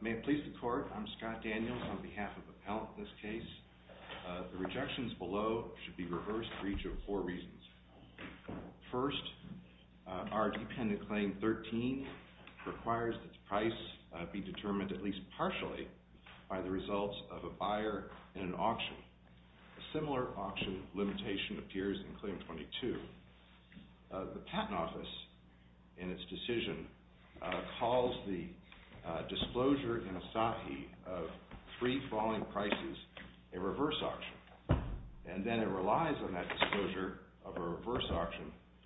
May it please the Court, I'm Scott Daniels on behalf of the appellant in this case. The rejections below should be reversed for each of four reasons. First, our dependent claim 13 requires that the price be determined at least partially by the results of a buyer in an auction. A similar auction limitation appears in claim 22. The Patent Office, in its decision, calls the disclosure in Asahi of three falling prices a reverse auction. And then it relies on that disclosure of a reverse auction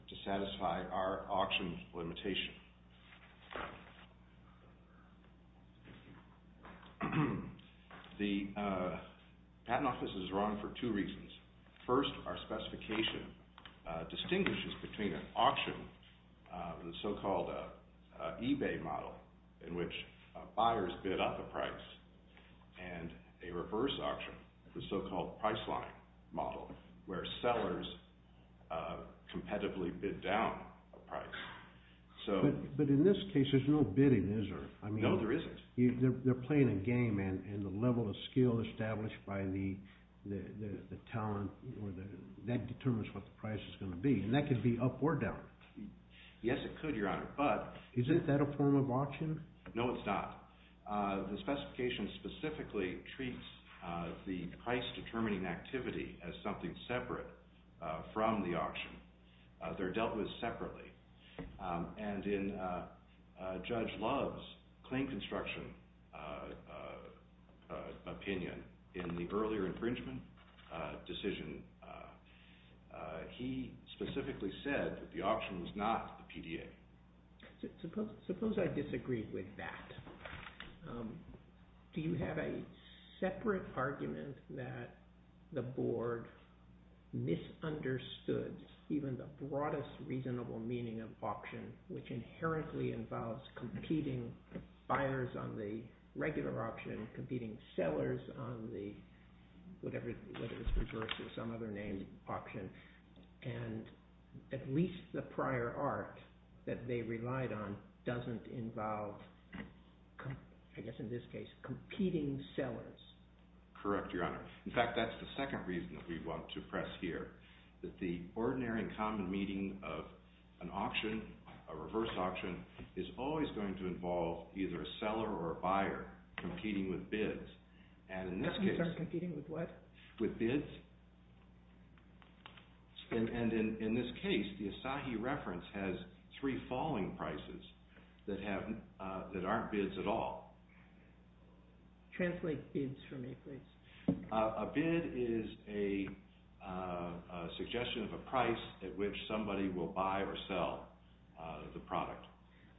to satisfy our auction limitation. The Patent Office is wrong for two reasons. First, our specification distinguishes between an auction, the so-called eBay model, in which buyers bid up a price, and a reverse auction, the so-called Priceline model, where sellers competitively bid down a price. But in this case there's no bidding, is there? No, there isn't. They're playing a game, and the level of skill established by the talent, that determines what the price is going to be. And that could be up or down. Yes, it could, Your Honor, but... Isn't that a form of auction? No, it's not. The specification specifically treats the price-determining activity as something separate from the auction. They're dealt with separately. And in Judge Love's claim construction opinion in the earlier infringement decision, he specifically said that the auction was not the PDA. Suppose I disagree with that. Do you have a separate argument that the Board misunderstood even the broadest reasonable meaning of auction, which inherently involves competing buyers on the regular auction, competing sellers on the, whatever, whether it's reverse or some other name, auction, and at least the prior art that they relied on doesn't involve, I guess in this case, competing sellers? Correct, Your Honor. In fact, that's the second reason that we want to press here, that the ordinary and common meaning of an auction, a reverse auction, is always going to involve either a seller or a buyer competing with bids. With bids. And in this case, the Asahi reference has three falling prices that aren't bids at all. Translate bids for me, please. A bid is a suggestion of a price at which somebody will buy or sell the product.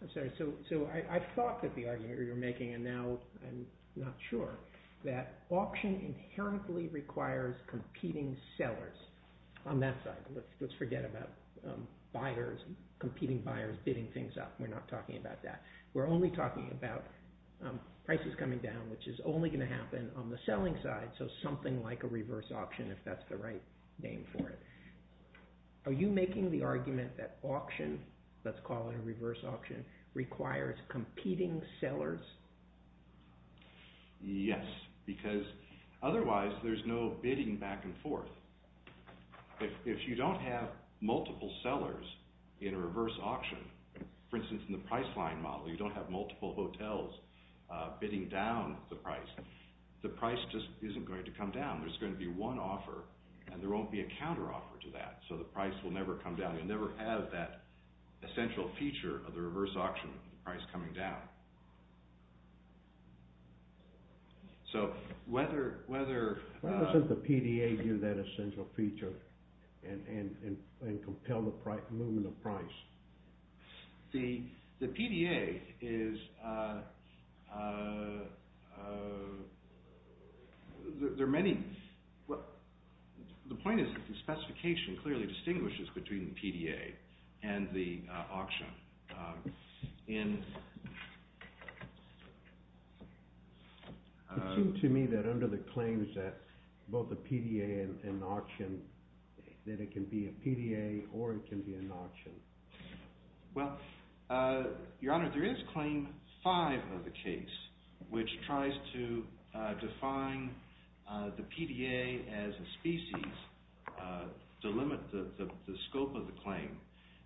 I'm sorry, so I thought that the argument you're making, and now I'm not sure, that auction inherently requires competing sellers on that side. Let's forget about buyers, competing buyers bidding things up. We're not talking about that. We're only talking about prices coming down, which is only going to happen on the selling side, so something like a reverse auction, if that's the right name for it. Are you making the argument that auction, let's call it a reverse auction, requires competing sellers? Yes, because otherwise there's no bidding back and forth. If you don't have multiple sellers in a reverse auction, for instance in the Priceline model, you don't have multiple hotels bidding down the price. The price just isn't going to come down. There's going to be one offer, and there won't be a counteroffer to that, so the price will never come down. You'll never have that essential feature of the reverse auction, the price coming down. So whether— Why doesn't the PDA give that essential feature and compel the movement of price? The PDA is—there are many—the point is that the specification clearly distinguishes between the PDA and the auction. It seems to me that under the claims that both the PDA and the auction, that it can be a PDA or it can be an auction. Well, Your Honor, there is Claim 5 of the case, which tries to define the PDA as a species to limit the scope of the claim.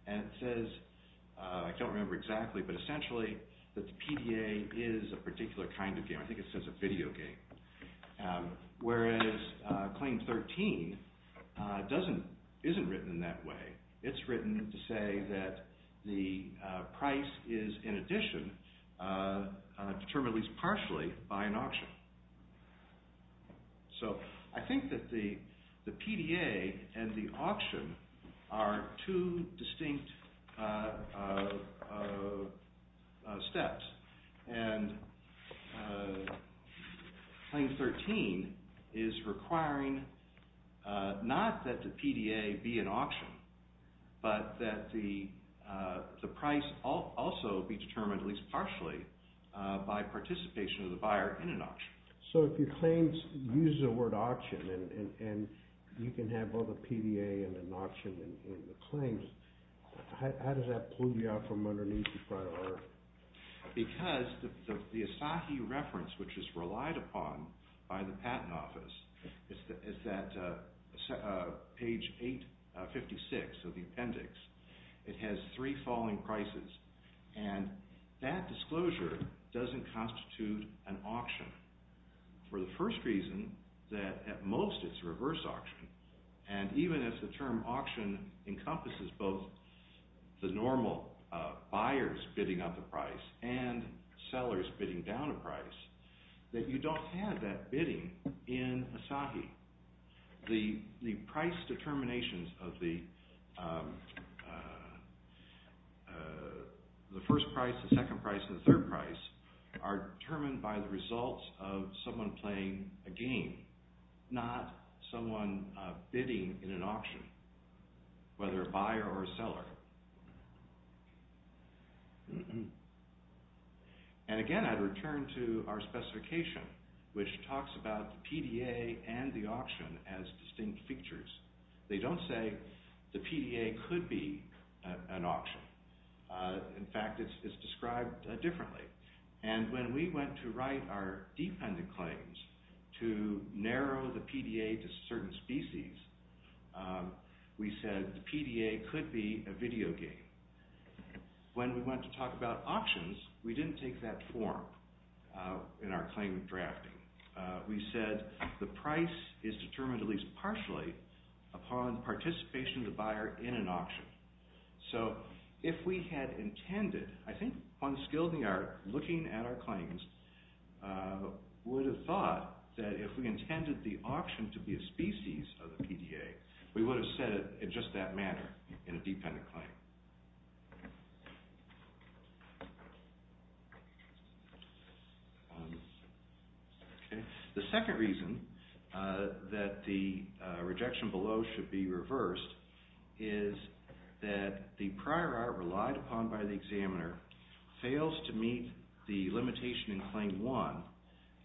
And it says—I don't remember exactly, but essentially that the PDA is a particular kind of game. I think it says a video game. Whereas Claim 13 doesn't—isn't written in that way. It's written to say that the price is, in addition, determined at least partially by an auction. So I think that the PDA and the auction are two distinct steps. And Claim 13 is requiring not that the PDA be an auction, but that the price also be determined at least partially by participation of the buyer in an auction. So if your claims use the word auction and you can have both a PDA and an auction in the claims, how does that pull you out from underneath the front of the earth? Because the Asahi reference, which is relied upon by the Patent Office, is at page 856 of the appendix. It has three falling prices, and that disclosure doesn't constitute an auction. For the first reason, that at most it's a reverse auction, and even if the term auction encompasses both the normal buyers bidding up a price and sellers bidding down a price, that you don't have that bidding in Asahi. The price determinations of the first price, the second price, and the third price are determined by the results of someone playing a game, not someone bidding in an auction, whether a buyer or a seller. And again, I'd return to our specification, which talks about the PDA and the auction as distinct features. They don't say the PDA could be an auction. In fact, it's described differently. And when we went to write our dependent claims to narrow the PDA to certain species, we said the PDA could be a video game. When we went to talk about auctions, we didn't take that form in our claim drafting. We said the price is determined at least partially upon participation of the buyer in an auction. So if we had intended, I think one skill in the art, looking at our claims, would have thought that if we intended the auction to be a species of the PDA, we would have said it in just that manner in a dependent claim. The second reason that the rejection below should be reversed is that the prior art relied upon by the examiner fails to meet the limitation in Claim 1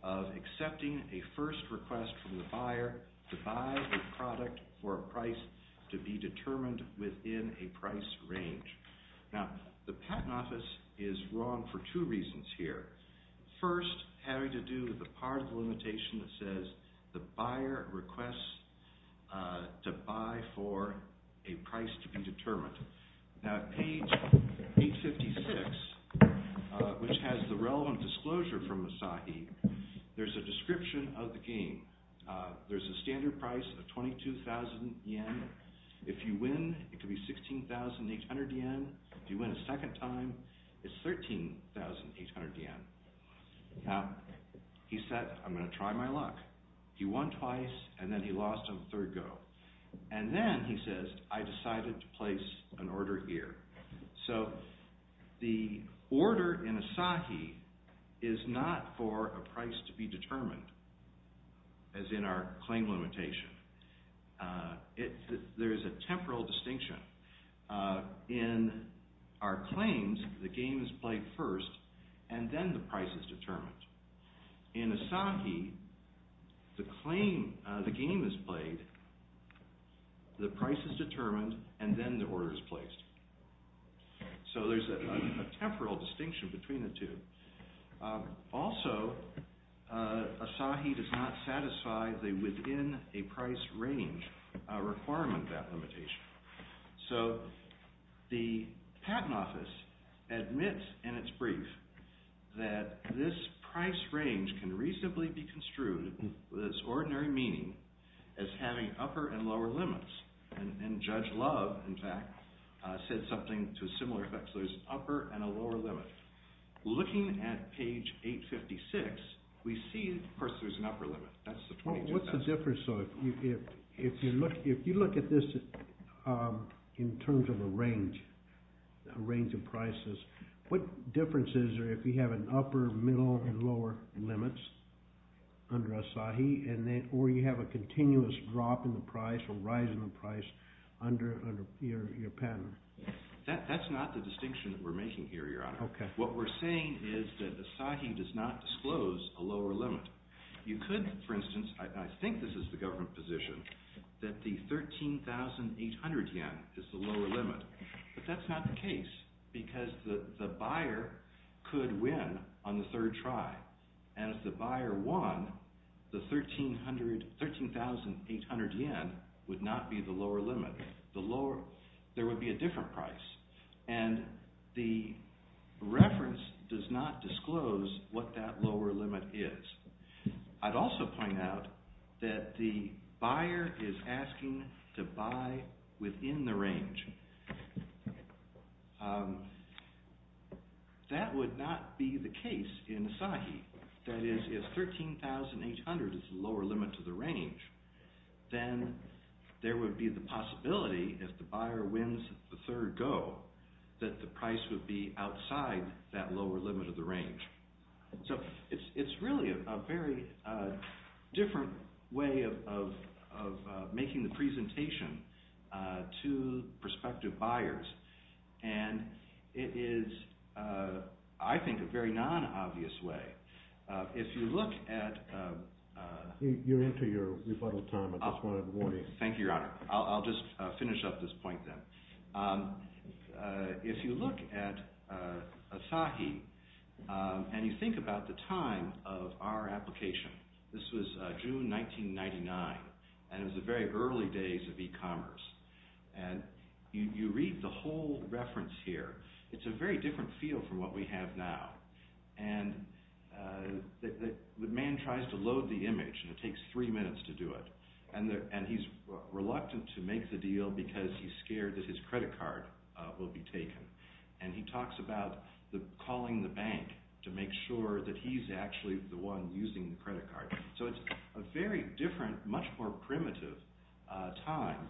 of accepting a first request from the buyer to buy a product for a price to be determined within a price range. Now, the patent office is wrong for two reasons here. First, having to do with the part of the limitation that says the buyer requests to buy for a price to be determined. Now, at page 56, which has the relevant disclosure from Asahi, there's a description of the game. There's a standard price of 22,000 yen. If you win, it could be 16,800 yen. If you win a second time, it's 13,800 yen. Now, he said, I'm going to try my luck. He won twice, and then he lost on the third go. And then he says, I decided to place an order here. So the order in Asahi is not for a price to be determined, as in our claim limitation. There is a temporal distinction. In our claims, the game is played first, and then the price is determined. In Asahi, the game is played, the price is determined, and then the order is placed. So there's a temporal distinction between the two. Also, Asahi does not satisfy the within a price range requirement, that limitation. So the patent office admits in its brief that this price range can reasonably be construed with its ordinary meaning as having upper and lower limits. And Judge Love, in fact, said something to a similar effect. So there's an upper and a lower limit. Looking at page 856, we see, of course, there's an upper limit. That's the 22,000. So if you look at this in terms of a range of prices, what difference is there if you have an upper, middle, and lower limits under Asahi, or you have a continuous drop in the price or rise in the price under your patent? That's not the distinction that we're making here, Your Honor. What we're saying is that Asahi does not disclose a lower limit. You could, for instance, I think this is the government position, that the 13,800 yen is the lower limit. But that's not the case, because the buyer could win on the third try. And if the buyer won, the 13,800 yen would not be the lower limit. There would be a different price. And the reference does not disclose what that lower limit is. I'd also point out that the buyer is asking to buy within the range. That would not be the case in Asahi. That is, if 13,800 is the lower limit to the range, then there would be the possibility, if the buyer wins the third go, that the price would be outside that lower limit of the range. So it's really a very different way of making the presentation to prospective buyers. And it is, I think, a very non-obvious way. If you look at… You're into your rebuttal time, but I just wanted a warning. Thank you, Your Honor. I'll just finish up this point then. If you look at Asahi and you think about the time of our application, this was June 1999, and it was the very early days of e-commerce. And you read the whole reference here. It's a very different feel from what we have now. And the man tries to load the image, and it takes three minutes to do it. And he's reluctant to make the deal because he's scared that his credit card will be taken. And he talks about calling the bank to make sure that he's actually the one using the credit card. So it's a very different, much more primitive time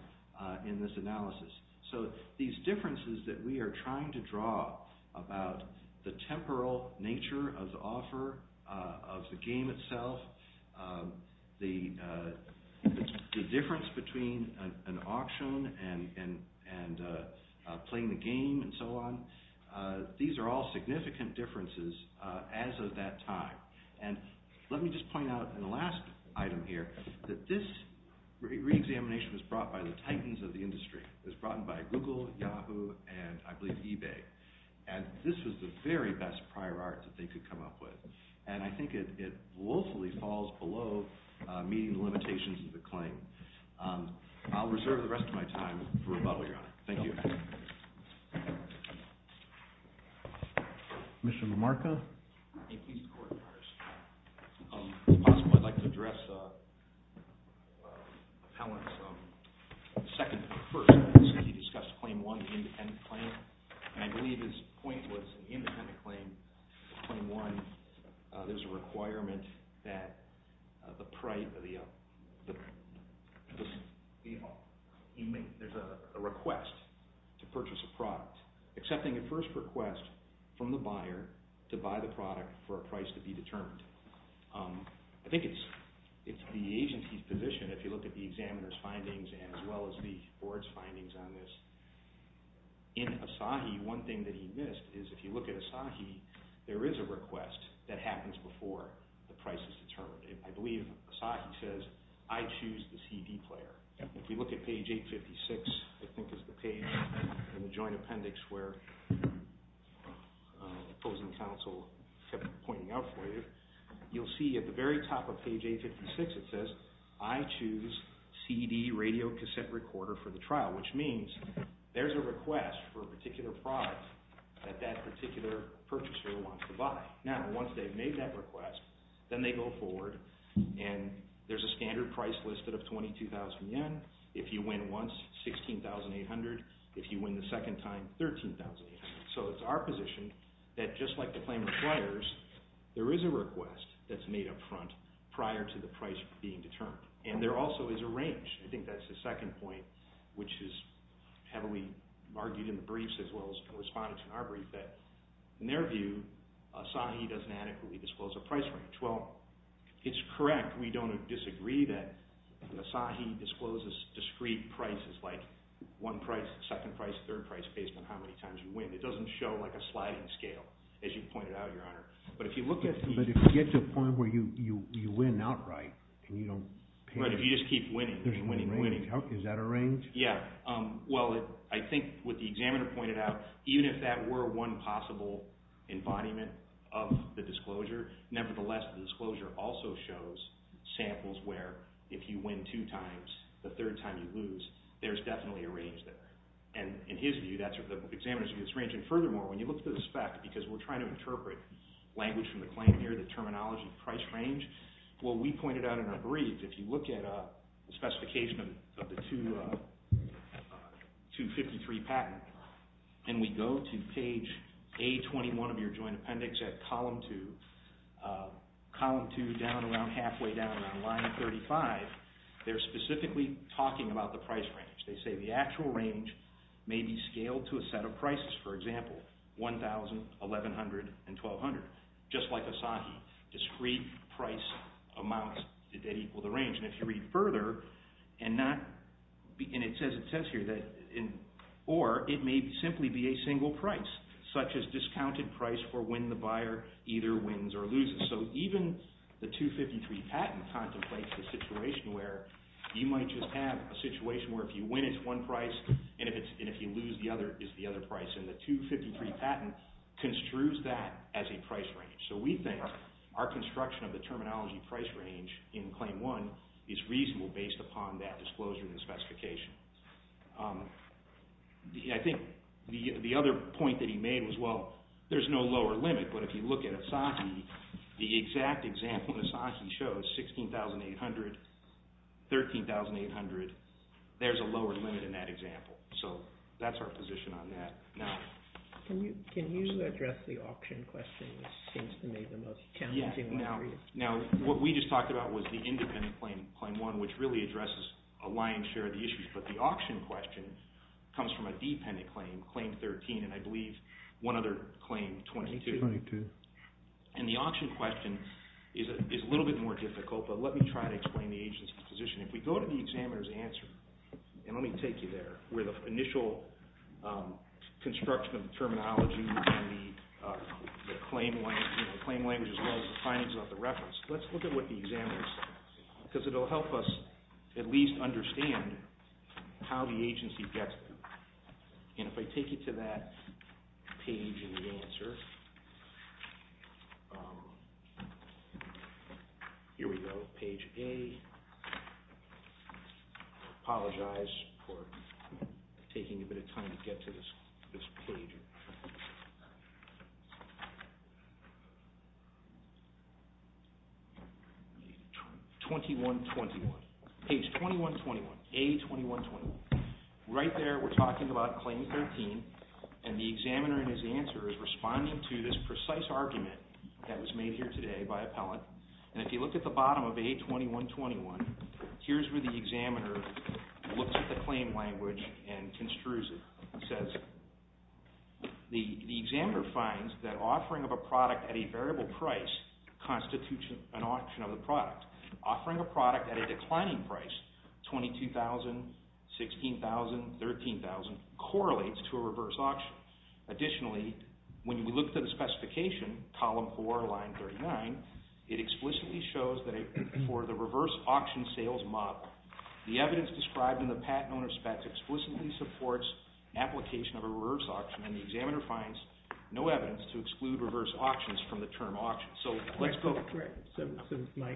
in this analysis. So these differences that we are trying to draw about the temporal nature of the offer, of the game itself, the difference between an auction and playing the game and so on, these are all significant differences as of that time. And let me just point out in the last item here that this reexamination was brought by the titans of the industry. It was brought in by Google, Yahoo, and I believe eBay. And this was the very best prior art that they could come up with. And I think it woefully falls below meeting the limitations of the claim. I'll reserve the rest of my time for rebuttal, Your Honor. Thank you. Thank you, Your Honor. Commissioner LaMarca? May it please the Court, Your Honor. If possible, I'd like to address Howland's second to the first. He discussed Claim 1, the independent claim, and I believe his point was in the independent claim, Claim 1, there's a requirement that the price of the… There's a request to purchase a product, accepting at first request from the buyer to buy the product for a price to be determined. I think it's the agency's position, if you look at the examiner's findings as well as the board's findings on this, in Asahi, one thing that he missed is if you look at Asahi, there is a request that happens before the price is determined. I believe Asahi says, I choose the CD player. If you look at page 856, I think it's the page in the joint appendix where opposing counsel kept pointing out for you, you'll see at the very top of page 856 it says, I choose CD radio cassette recorder for the trial, which means there's a request for a particular product that that particular purchaser wants to buy. Now, once they've made that request, then they go forward and there's a standard price listed of 22,000 yen. If you win once, 16,800. If you win the second time, 13,800. So it's our position that just like the claim requires, there is a request that's made up front prior to the price being determined, and there also is a range. I think that's the second point, which is heavily argued in the briefs as well as responded to in our brief, that in their view, Asahi doesn't adequately disclose a price range. Well, it's correct, we don't disagree that Asahi discloses discrete prices like one price, second price, third price based on how many times you win. It doesn't show like a sliding scale, as you pointed out, Your Honor. But if you get to a point where you win outright and you don't pay. Right, if you just keep winning, winning, winning. Is that a range? Yeah. Well, I think what the examiner pointed out, even if that were one possible embodiment of the disclosure, nevertheless the disclosure also shows samples where if you win two times, the third time you lose, there's definitely a range there. And in his view, the examiner's view, there's a range. And furthermore, when you look at the spec, because we're trying to interpret language from the claim here, the terminology, price range, what we pointed out in our brief, if you look at the specification of the 253 patent, and we go to page A21 of your joint appendix at column 2, column 2 down around halfway down, around line 35, they're specifically talking about the price range. They say the actual range may be scaled to a set of prices, for example, $1,100 and $1,200, just like Asahi, discrete price amounts that equal the range. And if you read further, and it says here, or it may simply be a single price, such as discounted price for when the buyer either wins or loses. So even the 253 patent contemplates the situation where you might just have a situation where if you win, it's one price, and if you lose, it's the other price. And the 253 patent construes that as a price range. So we think our construction of the terminology price range in Claim 1 is reasonable based upon that disclosure and specification. I think the other point that he made was, well, there's no lower limit, but if you look at Asahi, the exact example Asahi shows, $16,800, $13,800, there's a lower limit in that example. So that's our position on that. Can you address the auction question, which seems to me the most challenging one for you? Now, what we just talked about was the independent claim, Claim 1, which really addresses a lion's share of the issues. But the auction question comes from a dependent claim, Claim 13, and I believe one other claim, 22. And the auction question is a little bit more difficult, but let me try to explain the agency's position. If we go to the examiner's answer, and let me take you there, where the initial construction of the terminology and the claim language as well as the findings of the reference. Let's look at what the examiner says, because it will help us at least understand how the agency gets them. And if I take you to that page in the answer, here we go. Page A, I apologize for taking a bit of time to get to this page. Page 2121, A2121. Right there we're talking about Claim 13, and the examiner in his answer is responding to this precise argument that was made here today by appellant. And if you look at the bottom of A2121, here's where the examiner looks at the claim language and construes it. It says, the examiner finds that offering of a product at a variable price constitutes an auction of the product. Offering a product at a declining price, $22,000, $16,000, $13,000, correlates to a reverse auction. Additionally, when you look at the specification, column 4, line 39, it explicitly shows that for the reverse auction sales model, the evidence described in the patent owner's specs explicitly supports application of a reverse auction, and the examiner finds no evidence to exclude reverse auctions from the term auction. So I guess my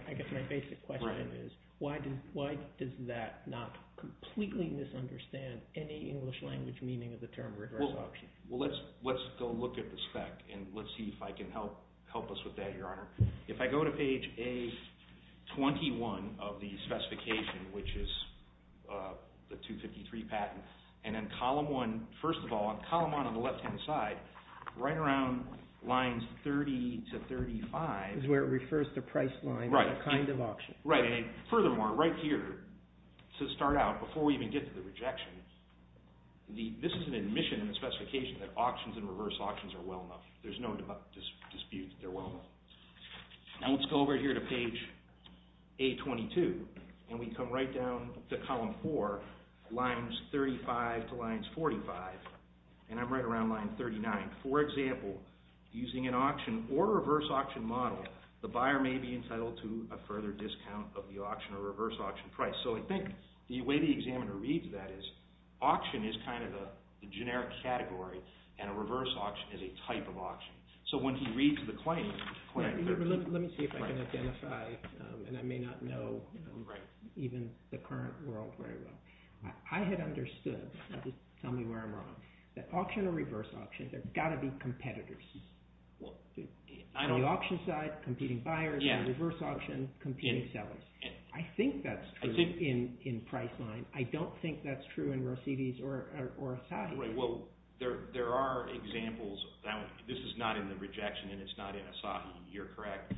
basic question is, why does that not completely misunderstand any English language meaning of the term reverse auction? Well, let's go look at the spec and let's see if I can help us with that, Your Honor. If I go to page A21 of the specification, which is the 253 patent, and then column 1, first of all, on column 1 on the left-hand side, right around lines 30 to 35, Is where it refers to price line, the kind of auction. Right, and furthermore, right here, to start out, before we even get to the rejection, this is an admission in the specification that auctions and reverse auctions are well enough. There's no dispute that they're well enough. Now let's go over here to page A22, and we come right down to column 4, lines 35 to lines 45, and I'm right around line 39. For example, using an auction or reverse auction model, the buyer may be entitled to a further discount of the auction or reverse auction price. So I think the way the examiner reads that is, auction is kind of the generic category, and a reverse auction is a type of auction. So when he reads the claim, Let me see if I can identify, and I may not know even the current world very well. I had understood, tell me where I'm wrong, that auction or reverse auction, there's got to be competitors. On the auction side, competing buyers, and reverse auction, competing sellers. I think that's true in price line. I don't think that's true in Rosides or Asahi. Well, there are examples. This is not in the rejection, and it's not in Asahi. You're correct.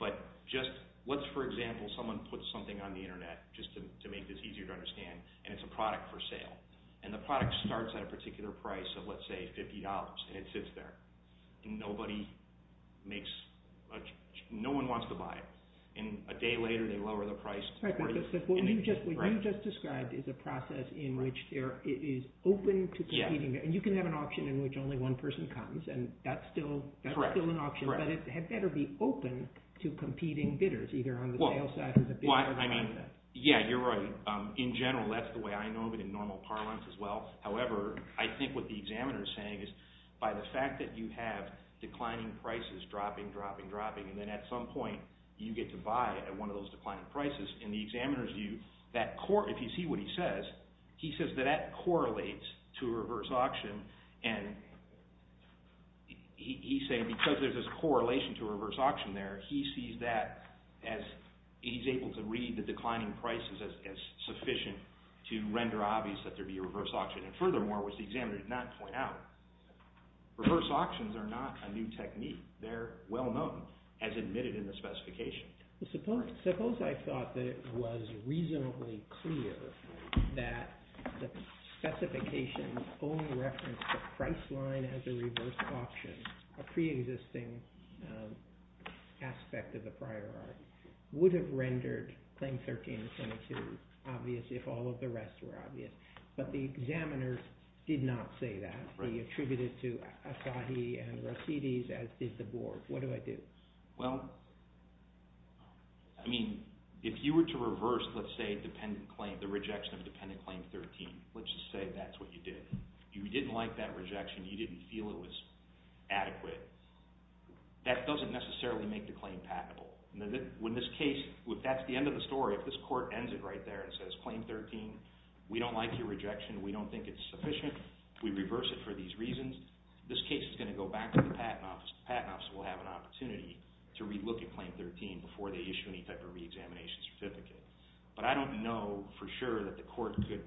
But just, let's for example, someone puts something on the internet, just to make this easier to understand, and it's a product for sale. And the product starts at a particular price of, let's say, $50, and it sits there. Nobody makes, no one wants to buy it. And a day later, they lower the price to $40. What you just described is a process in which it is open to competing, and you can have an auction in which only one person comes, and that's still an auction. But it had better be open to competing bidders, either on the sale side or the bidder side. Yeah, you're right. In general, that's the way I know of it in normal parlance as well. However, I think what the examiner is saying is, by the fact that you have declining prices, dropping, dropping, dropping, and then at some point, you get to buy at one of those declining prices, in the examiner's view, if you see what he says, he says that that correlates to a reverse auction. And he's saying because there's this correlation to a reverse auction there, he sees that as he's able to read the declining prices as sufficient to render obvious that there'd be a reverse auction. And furthermore, which the examiner did not point out, reverse auctions are not a new technique. They're well known, as admitted in the specification. Suppose I thought that it was reasonably clear that the specification only referenced the price line as a reverse auction, a pre-existing aspect of the priority, would have rendered Claim 1322 obvious if all of the rest were obvious. But the examiner did not say that. He attributed it to Asahi and Rossides, as did the board. What do I do? Well, I mean, if you were to reverse, let's say, the rejection of Dependent Claim 13, let's just say that's what you did, you didn't like that rejection, you didn't feel it was adequate, that doesn't necessarily make the claim patentable. In this case, if that's the end of the story, if this court ends it right there and says, Claim 13, we don't like your rejection, we don't think it's sufficient, we reverse it for these reasons, this case is going to go back to the Patent Office. The Patent Office will have an opportunity to re-look at Claim 13 before they issue any type of re-examination certificate. But I don't know for sure that the court could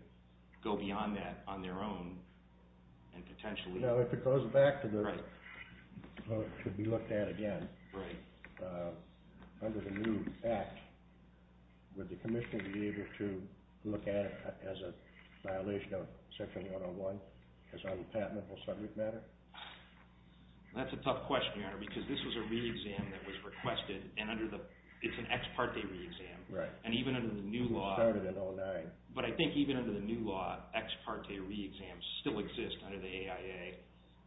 go beyond that on their own and potentially... No, if it goes back to the... Right. ...could be looked at again... Right. ...under the new Act, would the Commissioner be able to look at it as a violation of Section 101, as on the patentable subject matter? That's a tough question, Your Honor, because this was a re-exam that was requested and under the... it's an ex parte re-exam... Right. ...and even under the new law... It started in 09. But I think even under the new law, ex parte re-exams still exist under the AIA,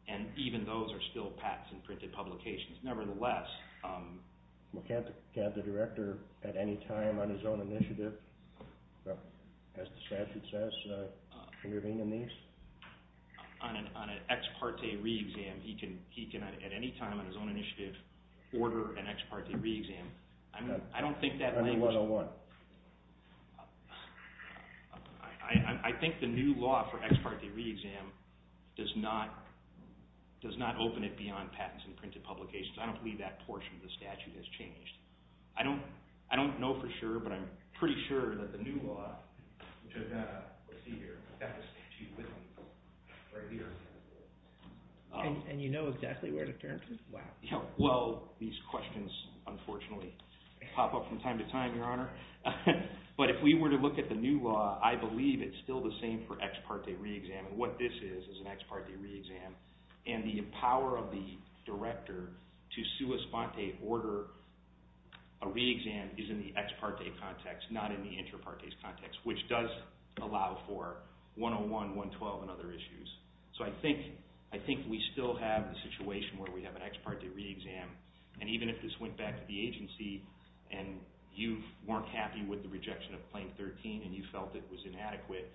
and even those are still patents and printed publications. Nevertheless, can't the Director at any time on his own initiative, as the statute says, intervene in these? On an ex parte re-exam, he can at any time on his own initiative order an ex parte re-exam. I don't think that language... Under 101. I think the new law for ex parte re-exam does not open it beyond patents and printed publications. I don't believe that portion of the statute has changed. I don't know for sure, but I'm pretty sure that the new law, which I've got here, I've got the statute with me right here. And you know exactly where to turn to? Wow. Yeah, well, these questions, unfortunately, pop up from time to time, Your Honor. But if we were to look at the new law, I believe it's still the same for ex parte re-exam. What this is is an ex parte re-exam, and the power of the Director to sua sponte order a re-exam is in the ex parte context, not in the inter parte context, which does allow for 101, 112, and other issues. So I think we still have the situation where we have an ex parte re-exam, and even if this went back to the agency and you weren't happy with the rejection of Claim 13 and you felt it was inadequate,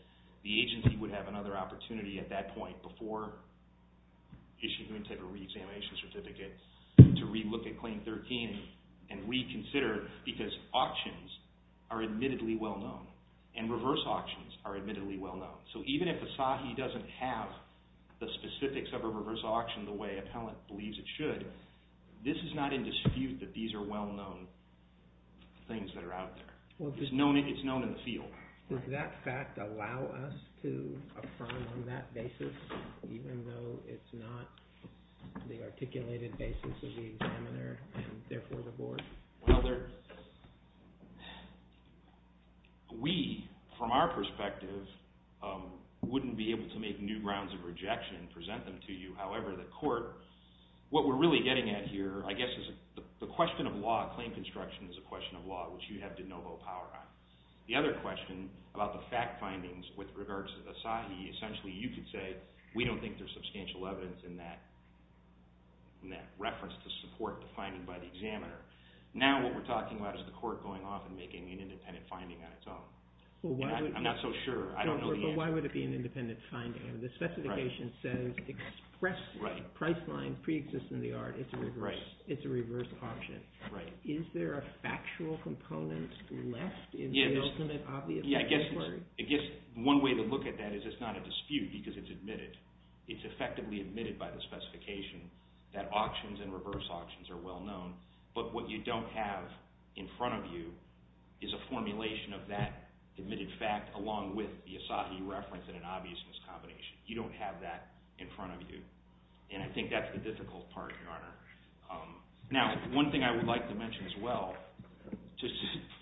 the agency would have another opportunity at that point before issuing a type of re-examination certificate to re-look at Claim 13 and reconsider, because auctions are admittedly well-known, and reverse auctions are admittedly well-known. So even if the sahih doesn't have the specifics of a reverse auction the way appellant believes it should, this is not in dispute that these are well-known things that are out there. It's known in the field. Does that fact allow us to affirm on that basis, even though it's not the articulated basis of the examiner and therefore the board? Well, we, from our perspective, wouldn't be able to make new grounds of rejection and present them to you. However, the court, what we're really getting at here, I guess, is the question of law, claim construction is a question of law, which you have de novo power on. The other question about the fact findings with regards to the sahih, essentially you could say we don't think there's substantial evidence in that reference to support the finding by the examiner. Now what we're talking about is the court going off and making an independent finding on its own. I'm not so sure. I don't know the answer. But why would it be an independent finding? The specification says expressly, priceline, pre-existence of the art, it's a reverse auction. Right. Is there a factual component left in the ultimate obvious statutory? Yeah, I guess one way to look at that is it's not a dispute because it's admitted. It's effectively admitted by the specification that auctions and reverse auctions are well known, but what you don't have in front of you is a formulation of that admitted fact along with the sahih reference and an obviousness combination. You don't have that in front of you, and I think that's the difficult part, Your Honor. Now, one thing I would like to mention as well, just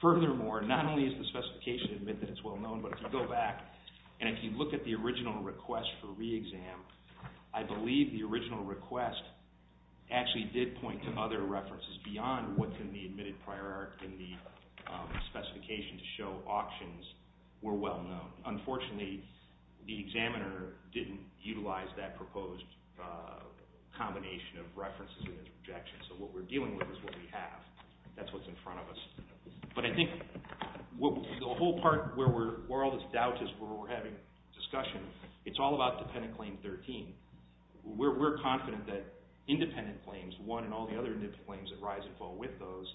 furthermore, not only does the specification admit that it's well known, but if you go back and if you look at the original request for re-exam, I believe the original request actually did point to other references beyond what can be admitted prior in the specification to show auctions were well known. Unfortunately, the examiner didn't utilize that proposed combination of references and interjections, so what we're dealing with is what we have. That's what's in front of us. But I think the whole part where all this doubt is where we're having discussion, it's all about Dependent Claim 13. We're confident that independent claims, one and all the other independent claims that rise and fall with those,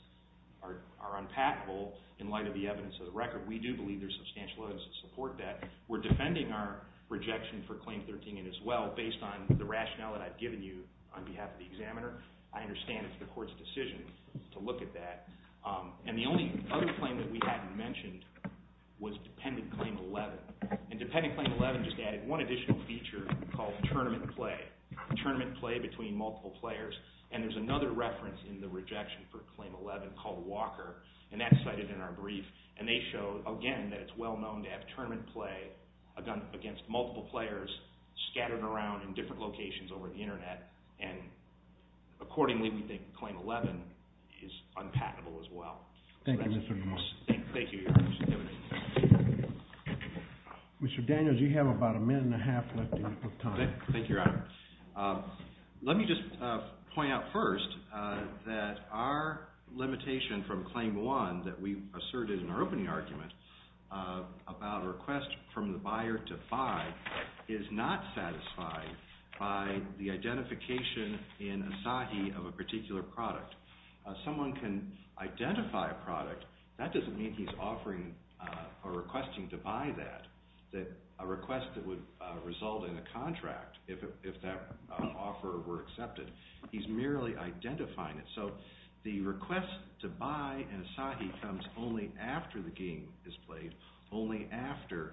are unpatentable in light of the evidence of the record. We do believe there's substantial evidence to support that. We're defending our rejection for Claim 13 as well, based on the rationale that I've given you on behalf of the examiner. I understand it's the Court's decision to look at that. And the only other claim that we hadn't mentioned was Dependent Claim 11. And Dependent Claim 11 just added one additional feature called tournament play, tournament play between multiple players. And there's another reference in the rejection for Claim 11 called Walker, and that's cited in our brief. And they show, again, that it's well known to have tournament play against multiple players scattered around in different locations over the Internet. And accordingly, we think Claim 11 is unpatentable as well. Thank you, Mr. Lamar. Thank you. Mr. Daniels, you have about a minute and a half left in your time. Thank you, Your Honor. Let me just point out first that our limitation from Claim 1 that we asserted in our opening argument about a request from the buyer to buy is not satisfied by the identification in Asahi of a particular product. Someone can identify a product. That doesn't mean he's offering or requesting to buy that, a request that would result in a contract if that offer were accepted. He's merely identifying it. So the request to buy in Asahi comes only after the game is played, only after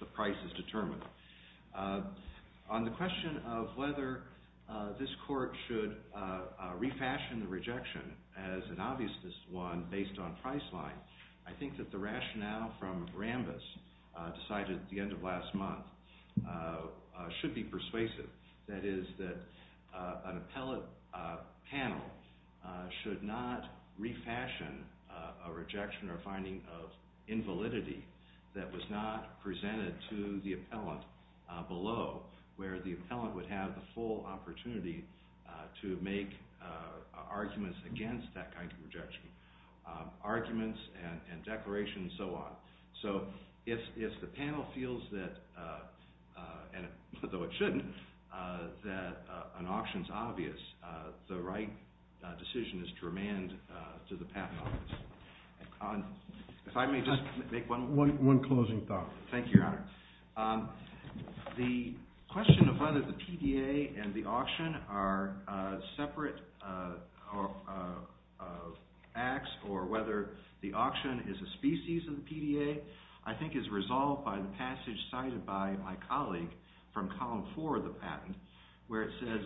the price is determined. On the question of whether this court should refashion the rejection as an obvious one based on price line, I think that the rationale from Rambis decided at the end of last month should be persuasive. That is that an appellate panel should not refashion a rejection or finding of invalidity that was not presented to the appellant below, where the appellant would have the full opportunity to make arguments against that kind of rejection, arguments and declarations and so on. So if the panel feels that, and though it shouldn't, that an auction is obvious, the right decision is to remand to the patent office. If I may just make one closing thought. Thank you, Your Honor. The question of whether the PDA and the auction are separate acts or whether the auction is a species of the PDA, I think is resolved by the passage cited by my colleague from column four of the patent, where it says,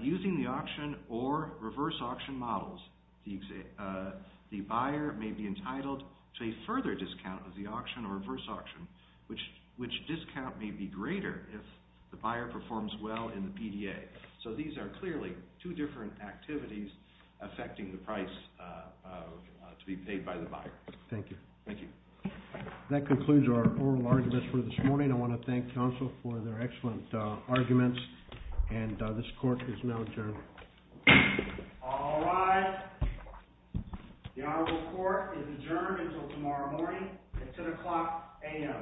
using the auction or reverse auction models, the buyer may be entitled to a further discount of the auction or reverse auction, which discount may be greater if the buyer performs well in the PDA. So these are clearly two different activities affecting the price to be paid by the buyer. Thank you. Thank you. That concludes our oral arguments for this morning. I want to thank counsel for their excellent arguments, and this court is now adjourned. All rise. The honorable court is adjourned until tomorrow morning at 10 o'clock a.m. Thank you.